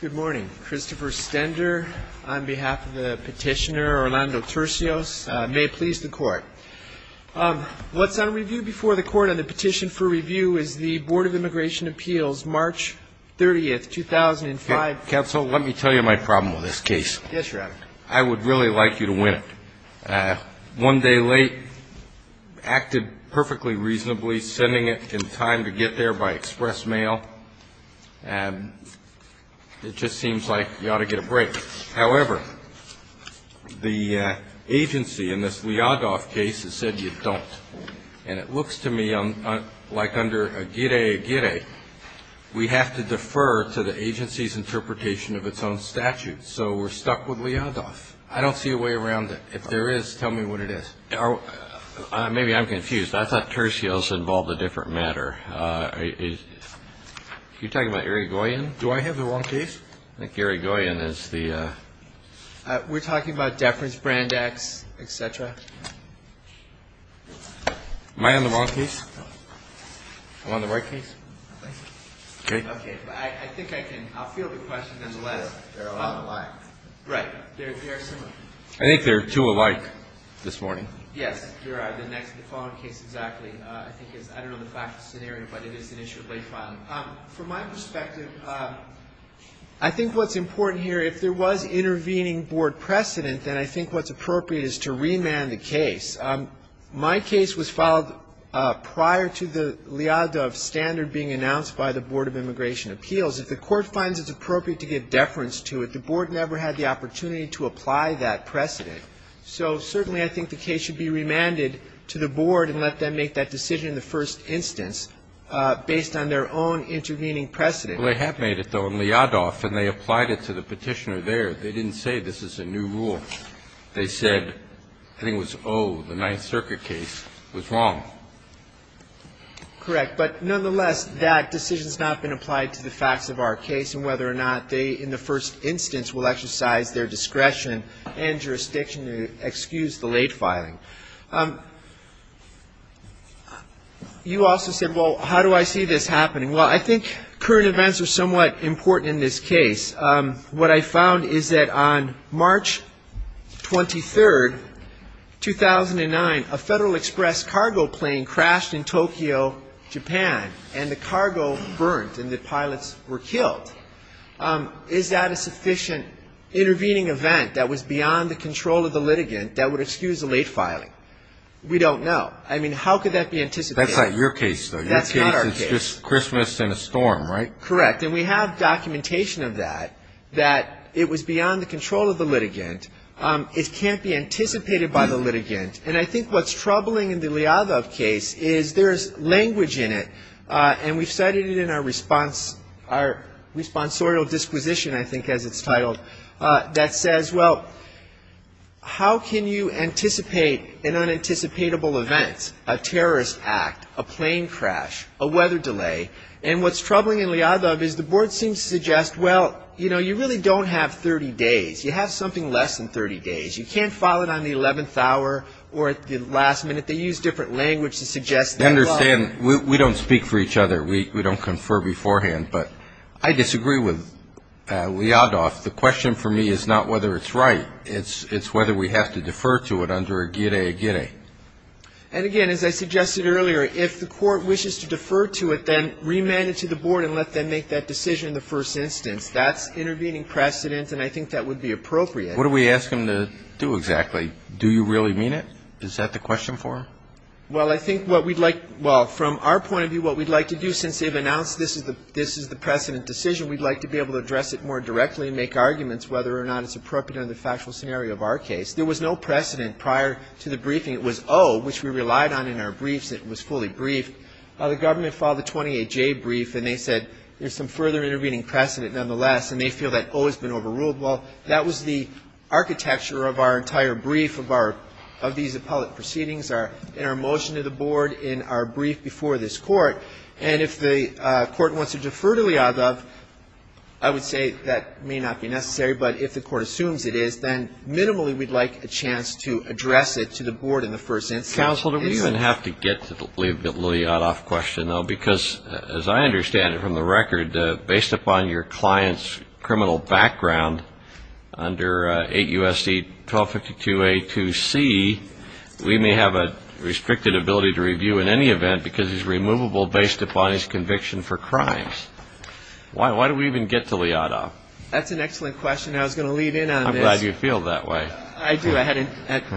Good morning. Christopher Stender on behalf of the petitioner, Orlando Turcios. May it please the Court. What's on review before the Court on the petition for review is the Board of Immigration Appeals, March 30th, 2005. Counsel, let me tell you my problem with this case. Yes, Your Honor. I would really like you to win it. One day late, acted perfectly reasonably, sending it in time to get there by express mail. It just seems like you ought to get a break. However, the agency in this Liadoff case has said you don't. And it looks to me like under a gire, gire, we have to defer to the agency's interpretation of its own statute. So we're stuck with Liadoff. I don't see a way around it. If there is, tell me what it is. Well, maybe I'm confused. I thought Turcios involved a different matter. Are you talking about Irigoyen? Do I have the wrong case? I think Irigoyen is the… We're talking about deference brand acts, et cetera. Am I on the wrong case? I'm on the right case? Okay. Okay. I think I can – I'll field the question nonetheless. They're alike. Right. They're similar. I think they're two alike this morning. Yes. You're right. The next – the following case, exactly, I think is – I don't know the factual scenario, but it is an issue of late filing. From my perspective, I think what's important here, if there was intervening board precedent, then I think what's appropriate is to remand the case. My case was filed prior to the Liadoff standard being announced by the Board of Immigration Appeals. If the court finds it's appropriate to give deference to it, the board never had the opportunity to apply that precedent. So certainly, I think the case should be remanded to the board and let them make that decision in the first instance based on their own intervening precedent. Well, they have made it, though, in Liadoff, and they applied it to the petitioner there. They didn't say this is a new rule. They said – I think it was O, the Ninth Circuit case was wrong. Correct. But nonetheless, that decision has not been applied to the facts of our case and whether or not they, in the first instance, will exercise their discretion and jurisdiction to excuse the late filing. You also said, well, how do I see this happening? Well, I think current events are somewhat important in this case. What I found is that on March 23, 2009, a Federal Express cargo plane crashed in Tokyo, Japan, and the cargo burnt and the pilots were killed. Is that a sufficient intervening event that was beyond the control of the litigant that would excuse the late filing? We don't know. I mean, how could that be anticipated? That's not your case, though. That's not our case. Your case is just Christmas and a storm, right? Correct. And we have documentation of that, that it was beyond the control of the litigant. It can't be anticipated by the litigant. And I think what's troubling in the Lyadov case is there's language in it, and we've cited it in our response, our responsorial disquisition, I think, as it's titled, that says, well, how can you anticipate an unanticipatable event, a terrorist act, a plane crash, a weather delay? And what's troubling in Lyadov is the board seems to suggest, well, you know, you really don't have 30 days. You have something less than 30 days. You can't file it on the 11th hour or at the last minute. They use different language to suggest that. I understand. We don't speak for each other. We don't confer beforehand. But I disagree with Lyadov. The question for me is not whether it's right. It's whether we have to defer to it under a gire-gire. And again, as I suggested earlier, if the court wishes to defer to it, then remand it to the board and let them make that decision in the first instance. That's intervening precedent, and I think that would be appropriate. What do we ask them to do exactly? Do you really mean it? Is that the question for them? Well, I think what we'd like, well, from our point of view, what we'd like to do, since they've announced this is the precedent decision, we'd like to be able to address it more directly and make arguments whether or not it's appropriate under the factual scenario of our case. There was no precedent prior to the briefing. It was O, which we relied on in our briefs. It was fully briefed. The government followed the 28J brief, and they said there's some further intervening precedent nonetheless, and they feel that O has been overruled. Well, that was the architecture of our entire brief of our – of these appellate proceedings in our motion to the board, in our brief before this Court. And if the Court wants to defer to Lyadov, I would say that may not be necessary, but if the Court assumes it is, then minimally we'd like a chance to address it to the board in the first instance. Counsel, do we even have to get to the Lyadov question, though? Because as I understand it from the record, based upon your client's criminal background under 8 U.S.C. 1252A2C, we may have a restricted ability to review in any event because he's removable based upon his conviction for crimes. Why do we even get to Lyadov? That's an excellent question. I was going to lead in on this. I'm glad you feel that way. I do. I hadn't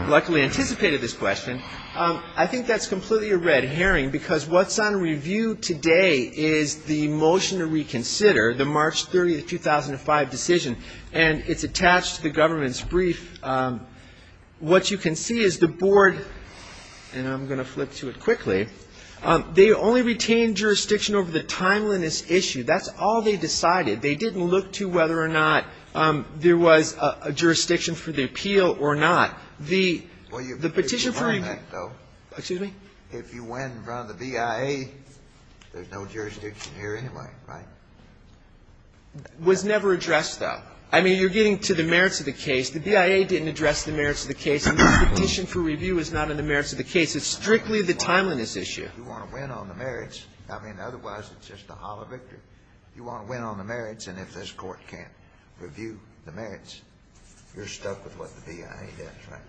luckily anticipated this question. I think that's completely a red herring because what's on review today is the motion to reconsider, the March 30, 2005 decision, and it's attached to the government's brief. What you can see is the board, and I'm going to flip to it quickly, they only retained jurisdiction over the timeliness issue. That's all they decided. They didn't look to whether or not there was a jurisdiction for the appeal or not. The Petition for Review was never addressed, though. I mean, you're getting to the merits of the case. The BIA didn't address the merits of the case, and the Petition for Review is not in the merits of the case. It's strictly the timeliness issue. You want to win on the merits, I mean, otherwise it's just a hollow victory. You want to win on the merits, and if this Court can't review the merits, you're stuck with what the BIA does, right?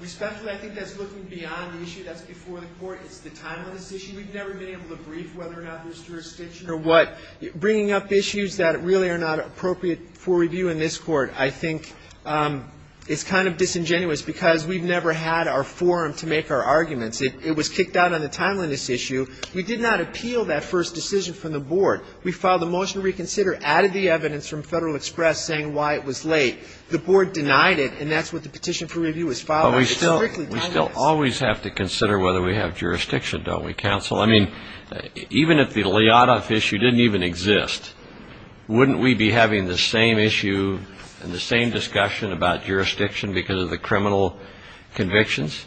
Respectfully, I think that's looking beyond the issue. That's before the Court. It's the timeliness issue. We've never been able to brief whether or not there's jurisdiction. You know what? Bringing up issues that really are not appropriate for review in this Court, I think, is kind of disingenuous because we've never had our forum to make our arguments. It was kicked out on the timeliness issue. We did not appeal that first decision from the Board. We filed a motion to reconsider, added the evidence from Federal Express saying why it was late. The Board denied it, and that's what the Petition for Review is following. It's strictly timeliness. But we still always have to consider whether we have jurisdiction, don't we, counsel? I mean, even if the Lyotov issue didn't even exist, wouldn't we be having the same issue and the same discussion about jurisdiction because of the criminal convictions?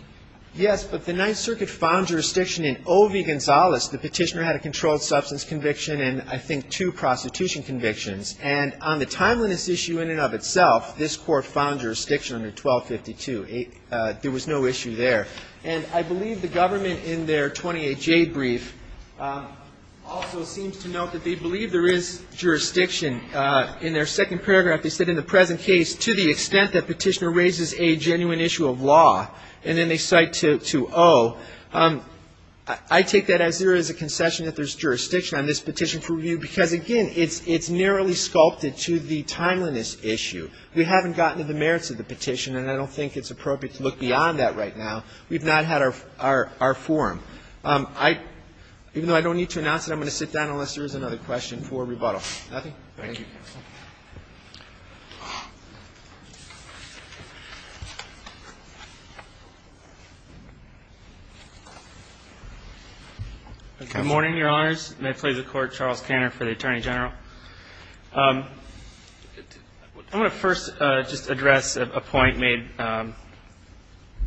Yes, but the Ninth Circuit found jurisdiction in O.V. Gonzales. The petitioner had a controlled substance conviction and, I think, two prostitution convictions. And on the timeliness issue in and of itself, this Court found jurisdiction under 1252. There was no issue there. And I believe the government in their 28J brief also seems to note that they believe there is jurisdiction. In their second paragraph, they said, to the extent that petitioner raises a genuine issue of law. And then they cite to O. I take that as there is a concession that there's jurisdiction on this petition for review because, again, it's narrowly sculpted to the timeliness issue. We haven't gotten to the merits of the petition, and I don't think it's appropriate to look beyond that right now. We've not had our forum. Even though I don't need to announce it, I'm going to sit down unless there is another question for rebuttal. Nothing? Thank you. Good morning, Your Honors. May it please the Court, Charles Cantor for the Attorney General. I want to first just address a point made by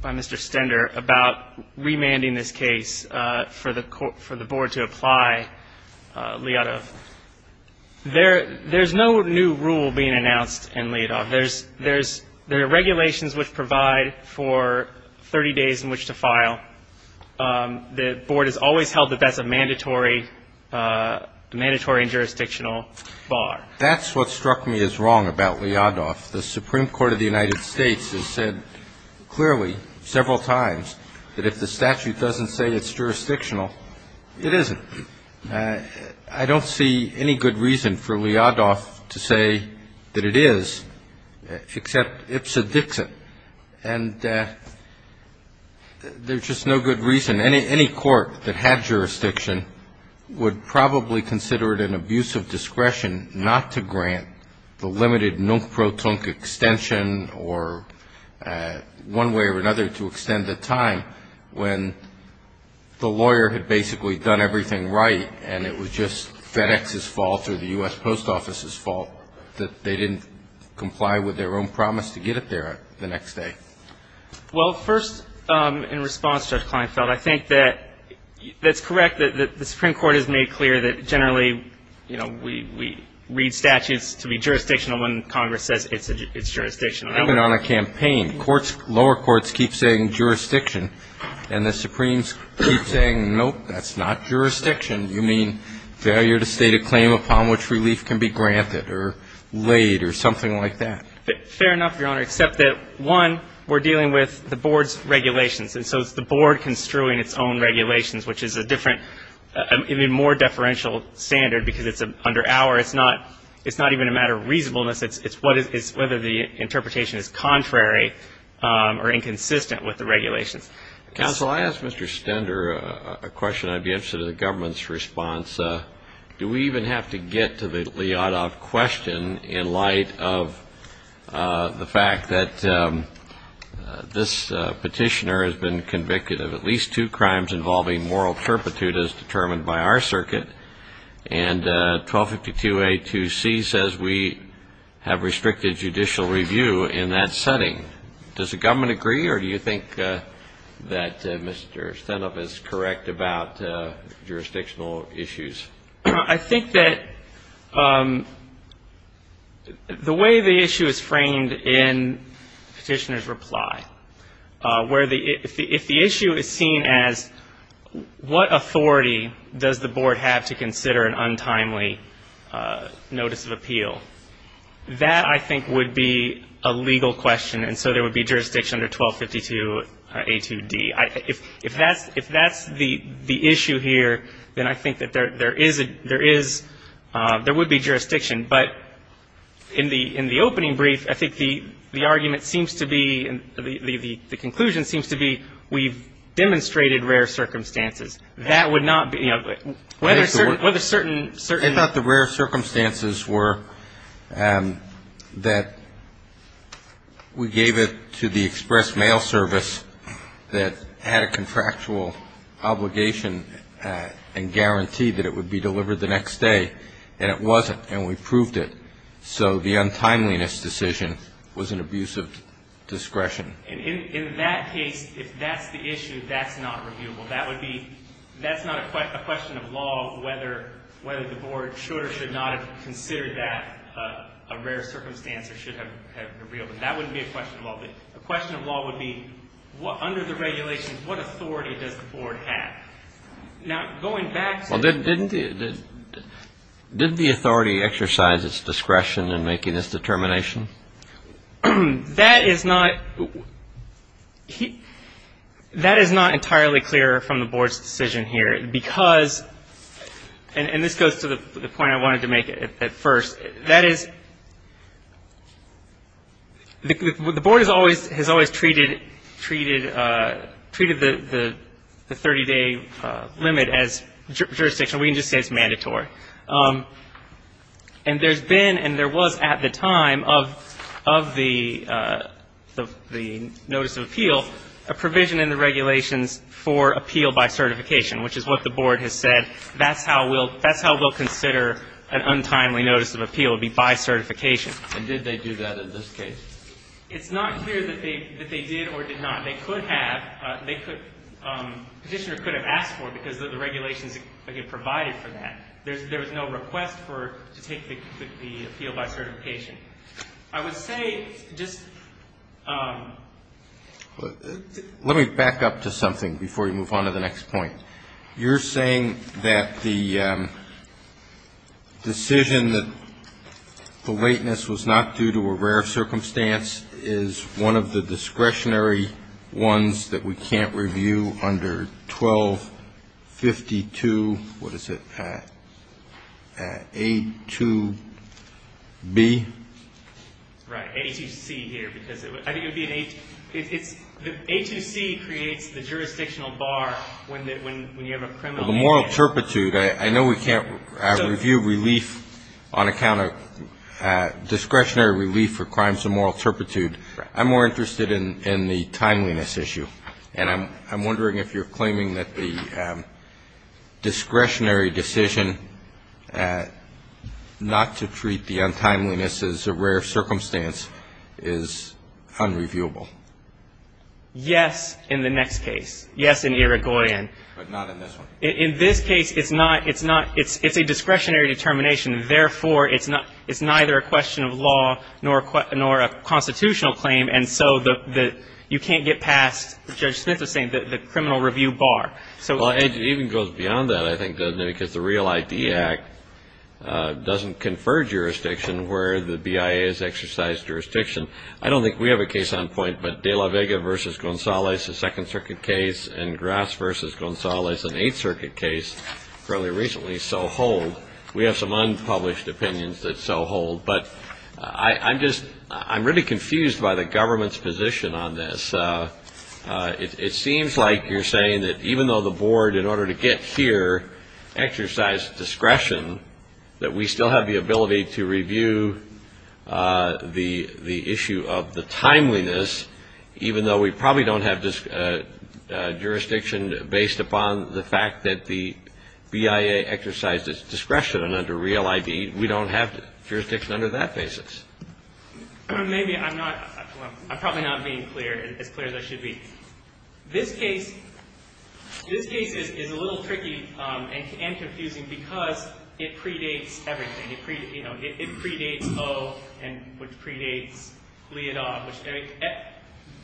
Mr. Stender about remanding this case for the Board to apply Liadov. There's no new rule being announced in Liadov. There's regulations which provide for 30 days in which to file. The Board has always held that that's a mandatory and jurisdictional bar. That's what struck me as wrong about Liadov. The Supreme Court of the United States has said clearly several times that if the statute doesn't say it's jurisdictional, it isn't. I don't see any good reason for Liadov to say that it is, except ipsa dixit. And there's just no good reason. Any court that had jurisdiction would probably consider it an abuse of discretion not to grant the limited nunc pro tunc or one way or another to extend the time when the lawyer had basically done everything right and it was just FedEx's fault or the U.S. Post Office's fault that they didn't comply with their own promise to get it there the next day. Well, first, in response, Judge Kleinfeld, I think that that's correct, that the Supreme Court has made clear that generally, you know, we read statutes to be jurisdictional when Congress says it's jurisdictional. Even on a campaign, courts, lower courts keep saying jurisdiction, and the Supremes keep saying, nope, that's not jurisdiction. You mean failure to state a claim upon which relief can be granted or laid or something like that. Fair enough, Your Honor, except that, one, we're dealing with the Board's regulations. And so it's the Board construing its own regulations, which is a different, even more deferential standard, because it's under our, it's not even a matter of reasonableness. It's whether the interpretation is contrary or inconsistent with the regulations. Counsel, I asked Mr. Stender a question I'd be interested in the government's response. Do we even have to get to the Lyotov question in light of the fact that this petitioner has been convicted of at least two crimes involving moral turpitude as determined by our circuit, and 1252A2C says we have restricted judicial review in that setting. Does the government agree, or do you think that Mr. Stendup is correct about jurisdictional issues? I think that the way the issue is framed in the petitioner's reply, where the, if the issue is seen as what authority does the Board have to consider an untimely notice of appeal, that, I think, would be a legal question. And so there would be jurisdiction under 1252A2D. If that's the issue here, then I think that there is a, there is, there would be jurisdiction. But in the opening brief, I think the argument seems to be, the conclusion seems to be we've demonstrated rare circumstances. That would not be, you know, whether certain. I thought the rare circumstances were that we gave it to the express mail service that had a contractual obligation and guaranteed that it would be delivered the next day, and it wasn't, and we proved it. So the untimeliness decision was an abuse of discretion. In that case, if that's the issue, that's not reviewable. That would be, that's not a question of law, whether the Board should or should not have considered that a rare circumstance or should have revealed it. That wouldn't be a question of law, but a question of law would be, under the regulations, what authority does the Board have? Now, going back to. Well, didn't the authority exercise its discretion in making this determination? That is not, that is not entirely clear from the Board's decision here, because, and this goes to the point I wanted to make at first, that is, the Board has always treated the 30-day limit as jurisdiction. We can just say it's mandatory. And there's been, and there was at the time of the notice of appeal, a provision in the regulations for appeal by certification, which is what the Board has said, that's how we'll consider an untimely notice of appeal, would be by certification. And did they do that in this case? It's not clear that they did or did not. They could have, they could, Petitioner could have asked for it, because the regulations provided for that. There was no request for, to take the appeal by certification. I would say just. Let me back up to something before you move on to the next point. You're saying that the decision that the lateness was not due to a rare circumstance is one of the discretionary ones that we can't review under 1252, what is it, A2B? Right, A2C here, because I think it would be an, it's, the A2C creates the jurisdictional bar when you have a criminal. Well, the moral turpitude, I know we can't review relief on account of discretionary relief for crimes of moral turpitude. I'm more interested in the timeliness issue. And I'm wondering if you're claiming that the discretionary decision not to treat the untimeliness as a rare circumstance is unreviewable. Yes, in the next case. Yes, in Irigoyen. But not in this one. In this case, it's not, it's a discretionary determination. Therefore, it's neither a question of law nor a constitutional claim. And so you can't get past, Judge Smith was saying, the criminal review bar. Well, it even goes beyond that, I think, doesn't it? Because the Real ID Act doesn't confer jurisdiction where the BIA has exercised jurisdiction. I don't think we have a case on point, but De La Vega v. Gonzalez, a Second Circuit case, and Grass v. Gonzalez, an Eighth Circuit case fairly recently, so hold. We have some unpublished opinions that so hold. But I'm just, I'm really confused by the government's position on this. It seems like you're saying that even though the board, in order to get here, exercised discretion, that we still have the ability to review the issue of the timeliness, even though we probably don't have jurisdiction based upon the fact that the BIA exercised its discretion under Real ID. We don't have jurisdiction under that basis. Maybe I'm not, I'm probably not being as clear as I should be. This case, this case is a little tricky and confusing because it predates everything. It predates O, which predates Leodol.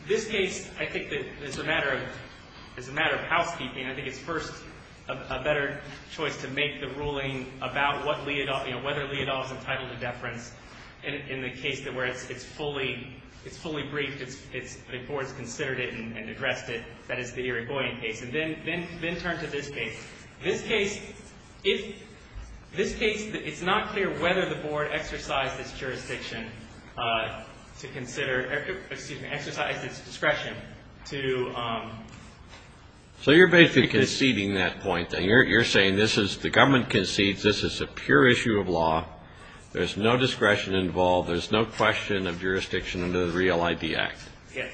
This case, I think, is a matter of housekeeping. I think it's first a better choice to make the ruling about whether Leodol is entitled to deference in the case where it's fully briefed, the board's considered it and addressed it. That is the Irigoyen case. And then turn to this case. This case, it's not clear whether the board exercised its jurisdiction to consider, excuse me, exercised its discretion to... There's no discretion involved. There's no question of jurisdiction under the Real ID Act.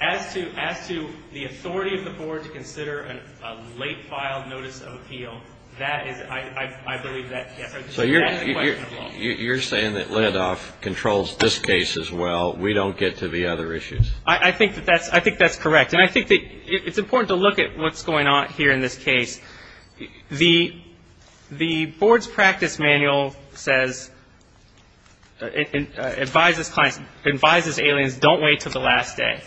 As to the authority of the board to consider a late filed notice of appeal, that is, I believe that... So you're saying that Leodol controls this case as well. We don't get to the other issues. I think that's correct, and I think that it's important to look at what's going on here in this case. The board's practice manual says, advises clients, advises aliens, don't wait until the last day.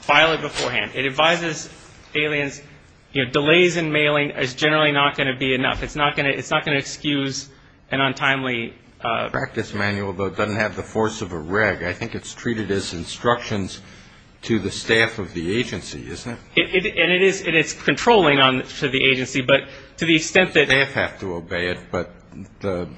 File it beforehand. It advises aliens, delays in mailing is generally not going to be enough. It's not going to excuse an untimely... The practice manual, though, doesn't have the force of a reg. I think it's treated as instructions to the staff of the agency, isn't it? And it is controlling to the agency, but to the extent that... The staff have to obey it, but the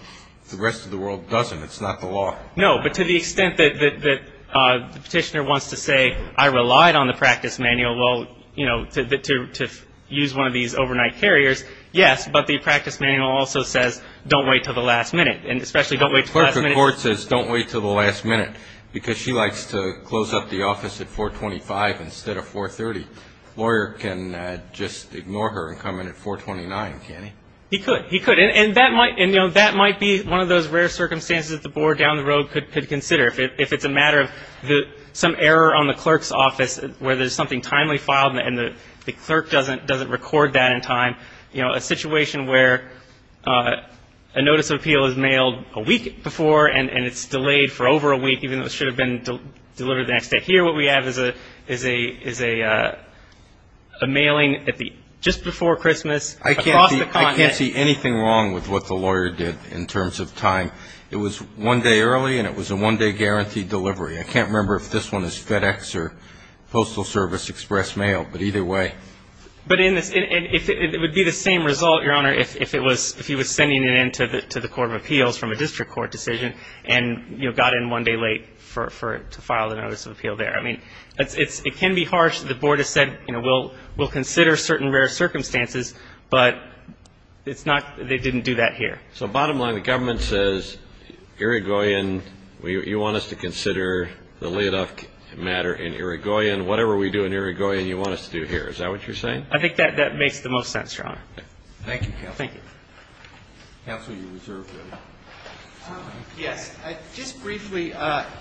rest of the world doesn't. It's not the law. No, but to the extent that the petitioner wants to say, I relied on the practice manual to use one of these overnight carriers, yes, but the practice manual also says, don't wait until the last minute. If a clerk of court says, don't wait until the last minute, because she likes to close up the office at 425 instead of 430, a lawyer can just ignore her and come in at 429, can't he? He could. He could, and that might be one of those rare circumstances that the board down the road could consider, if it's a matter of some error on the clerk's office where there's something timely filed and the clerk doesn't record that in time, a situation where a notice of appeal is mailed a week before and it's delayed for over a week, even though it should have been delivered the next day. Here what we have is a mailing just before Christmas. I can't see anything wrong with what the lawyer did in terms of time. It was one day early and it was a one-day guaranteed delivery. I can't remember if this one is FedEx or Postal Service Express Mail, but either way. It would be the same result, Your Honor, if he was sending it in to the Court of Appeals from a district court decision and, you know, got in one day late to file a notice of appeal there. I mean, it can be harsh. The board has said, you know, we'll consider certain rare circumstances, but it's not they didn't do that here. So bottom line, the government says, Irigoyen, you want us to consider the Liodov matter in Irigoyen. Whatever we do in Irigoyen, you want us to do here. Is that what you're saying? I think that makes the most sense, Your Honor. Thank you, counsel. Counsel, you're reserved. Yes. Just briefly,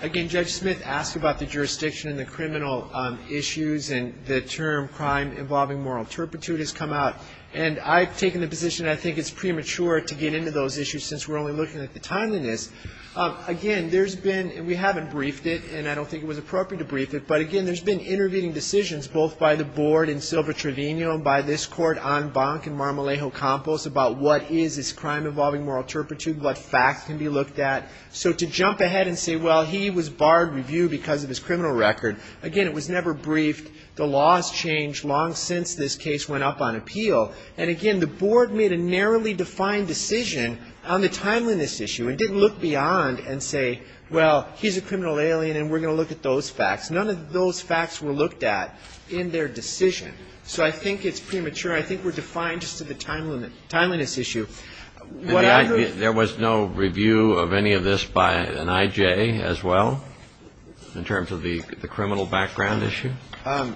again, Judge Smith asked about the jurisdiction and the criminal issues and the term crime involving moral turpitude has come out. And I've taken the position I think it's premature to get into those issues since we're only looking at the timeliness. Again, there's been and we haven't briefed it and I don't think it was appropriate to brief it. But again, there's been intervening decisions both by the board in Silva Trevino and by this court on Bonk and Marmolejo Campos about what is this crime involving moral turpitude, what facts can be looked at. So to jump ahead and say, well, he was barred review because of his criminal record. Again, it was never briefed. The laws changed long since this case went up on appeal. And again, the board made a narrowly defined decision on the timeliness issue and didn't look beyond and say, well, he's a criminal alien and we're going to look at those facts. None of those facts were looked at in their decision. So I think it's premature. I think we're defined just to the timeliness issue. There was no review of any of this by an I.J. as well in terms of the criminal background issue? Well,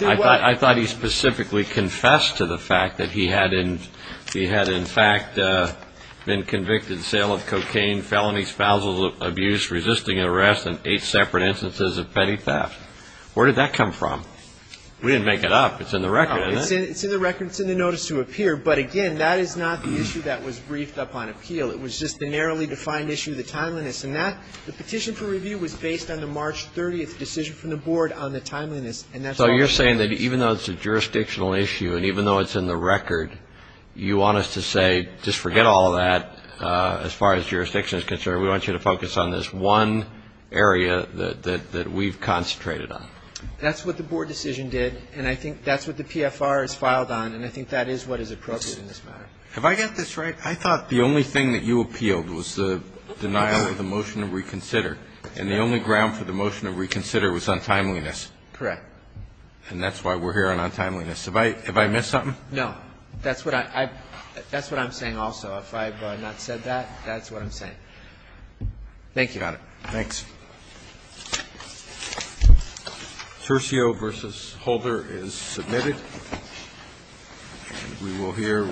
I thought he specifically confessed to the fact that he had in fact been convicted of sale of cocaine, felony spousal abuse, resisting arrest and eight separate instances of petty theft. Where did that come from? We didn't make it up. It's in the record, isn't it? It's in the record. It's in the notice to appear. But again, that is not the issue that was briefed up on appeal. It was just the narrowly defined issue, the timeliness. And the petition for review was based on the March 30th decision from the board on the timeliness. So you're saying that even though it's a jurisdictional issue and even though it's in the record, you want us to say, just forget all of that as far as jurisdiction is concerned. We want you to focus on this one area that we've concentrated on. That's what the board decision did, and I think that's what the PFR has filed on, and I think that is what is appropriate in this matter. Have I got this right? I thought the only thing that you appealed was the denial of the motion to reconsider, and the only ground for the motion to reconsider was on timeliness. Correct. And that's why we're here on timeliness. Have I missed something? No. That's what I'm saying also. If I have not said that, that's what I'm saying. Thank you, Your Honor. Thanks. Cercio v. Holder is submitted. And we will hear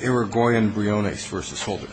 Irigoyen Briones v. Holder.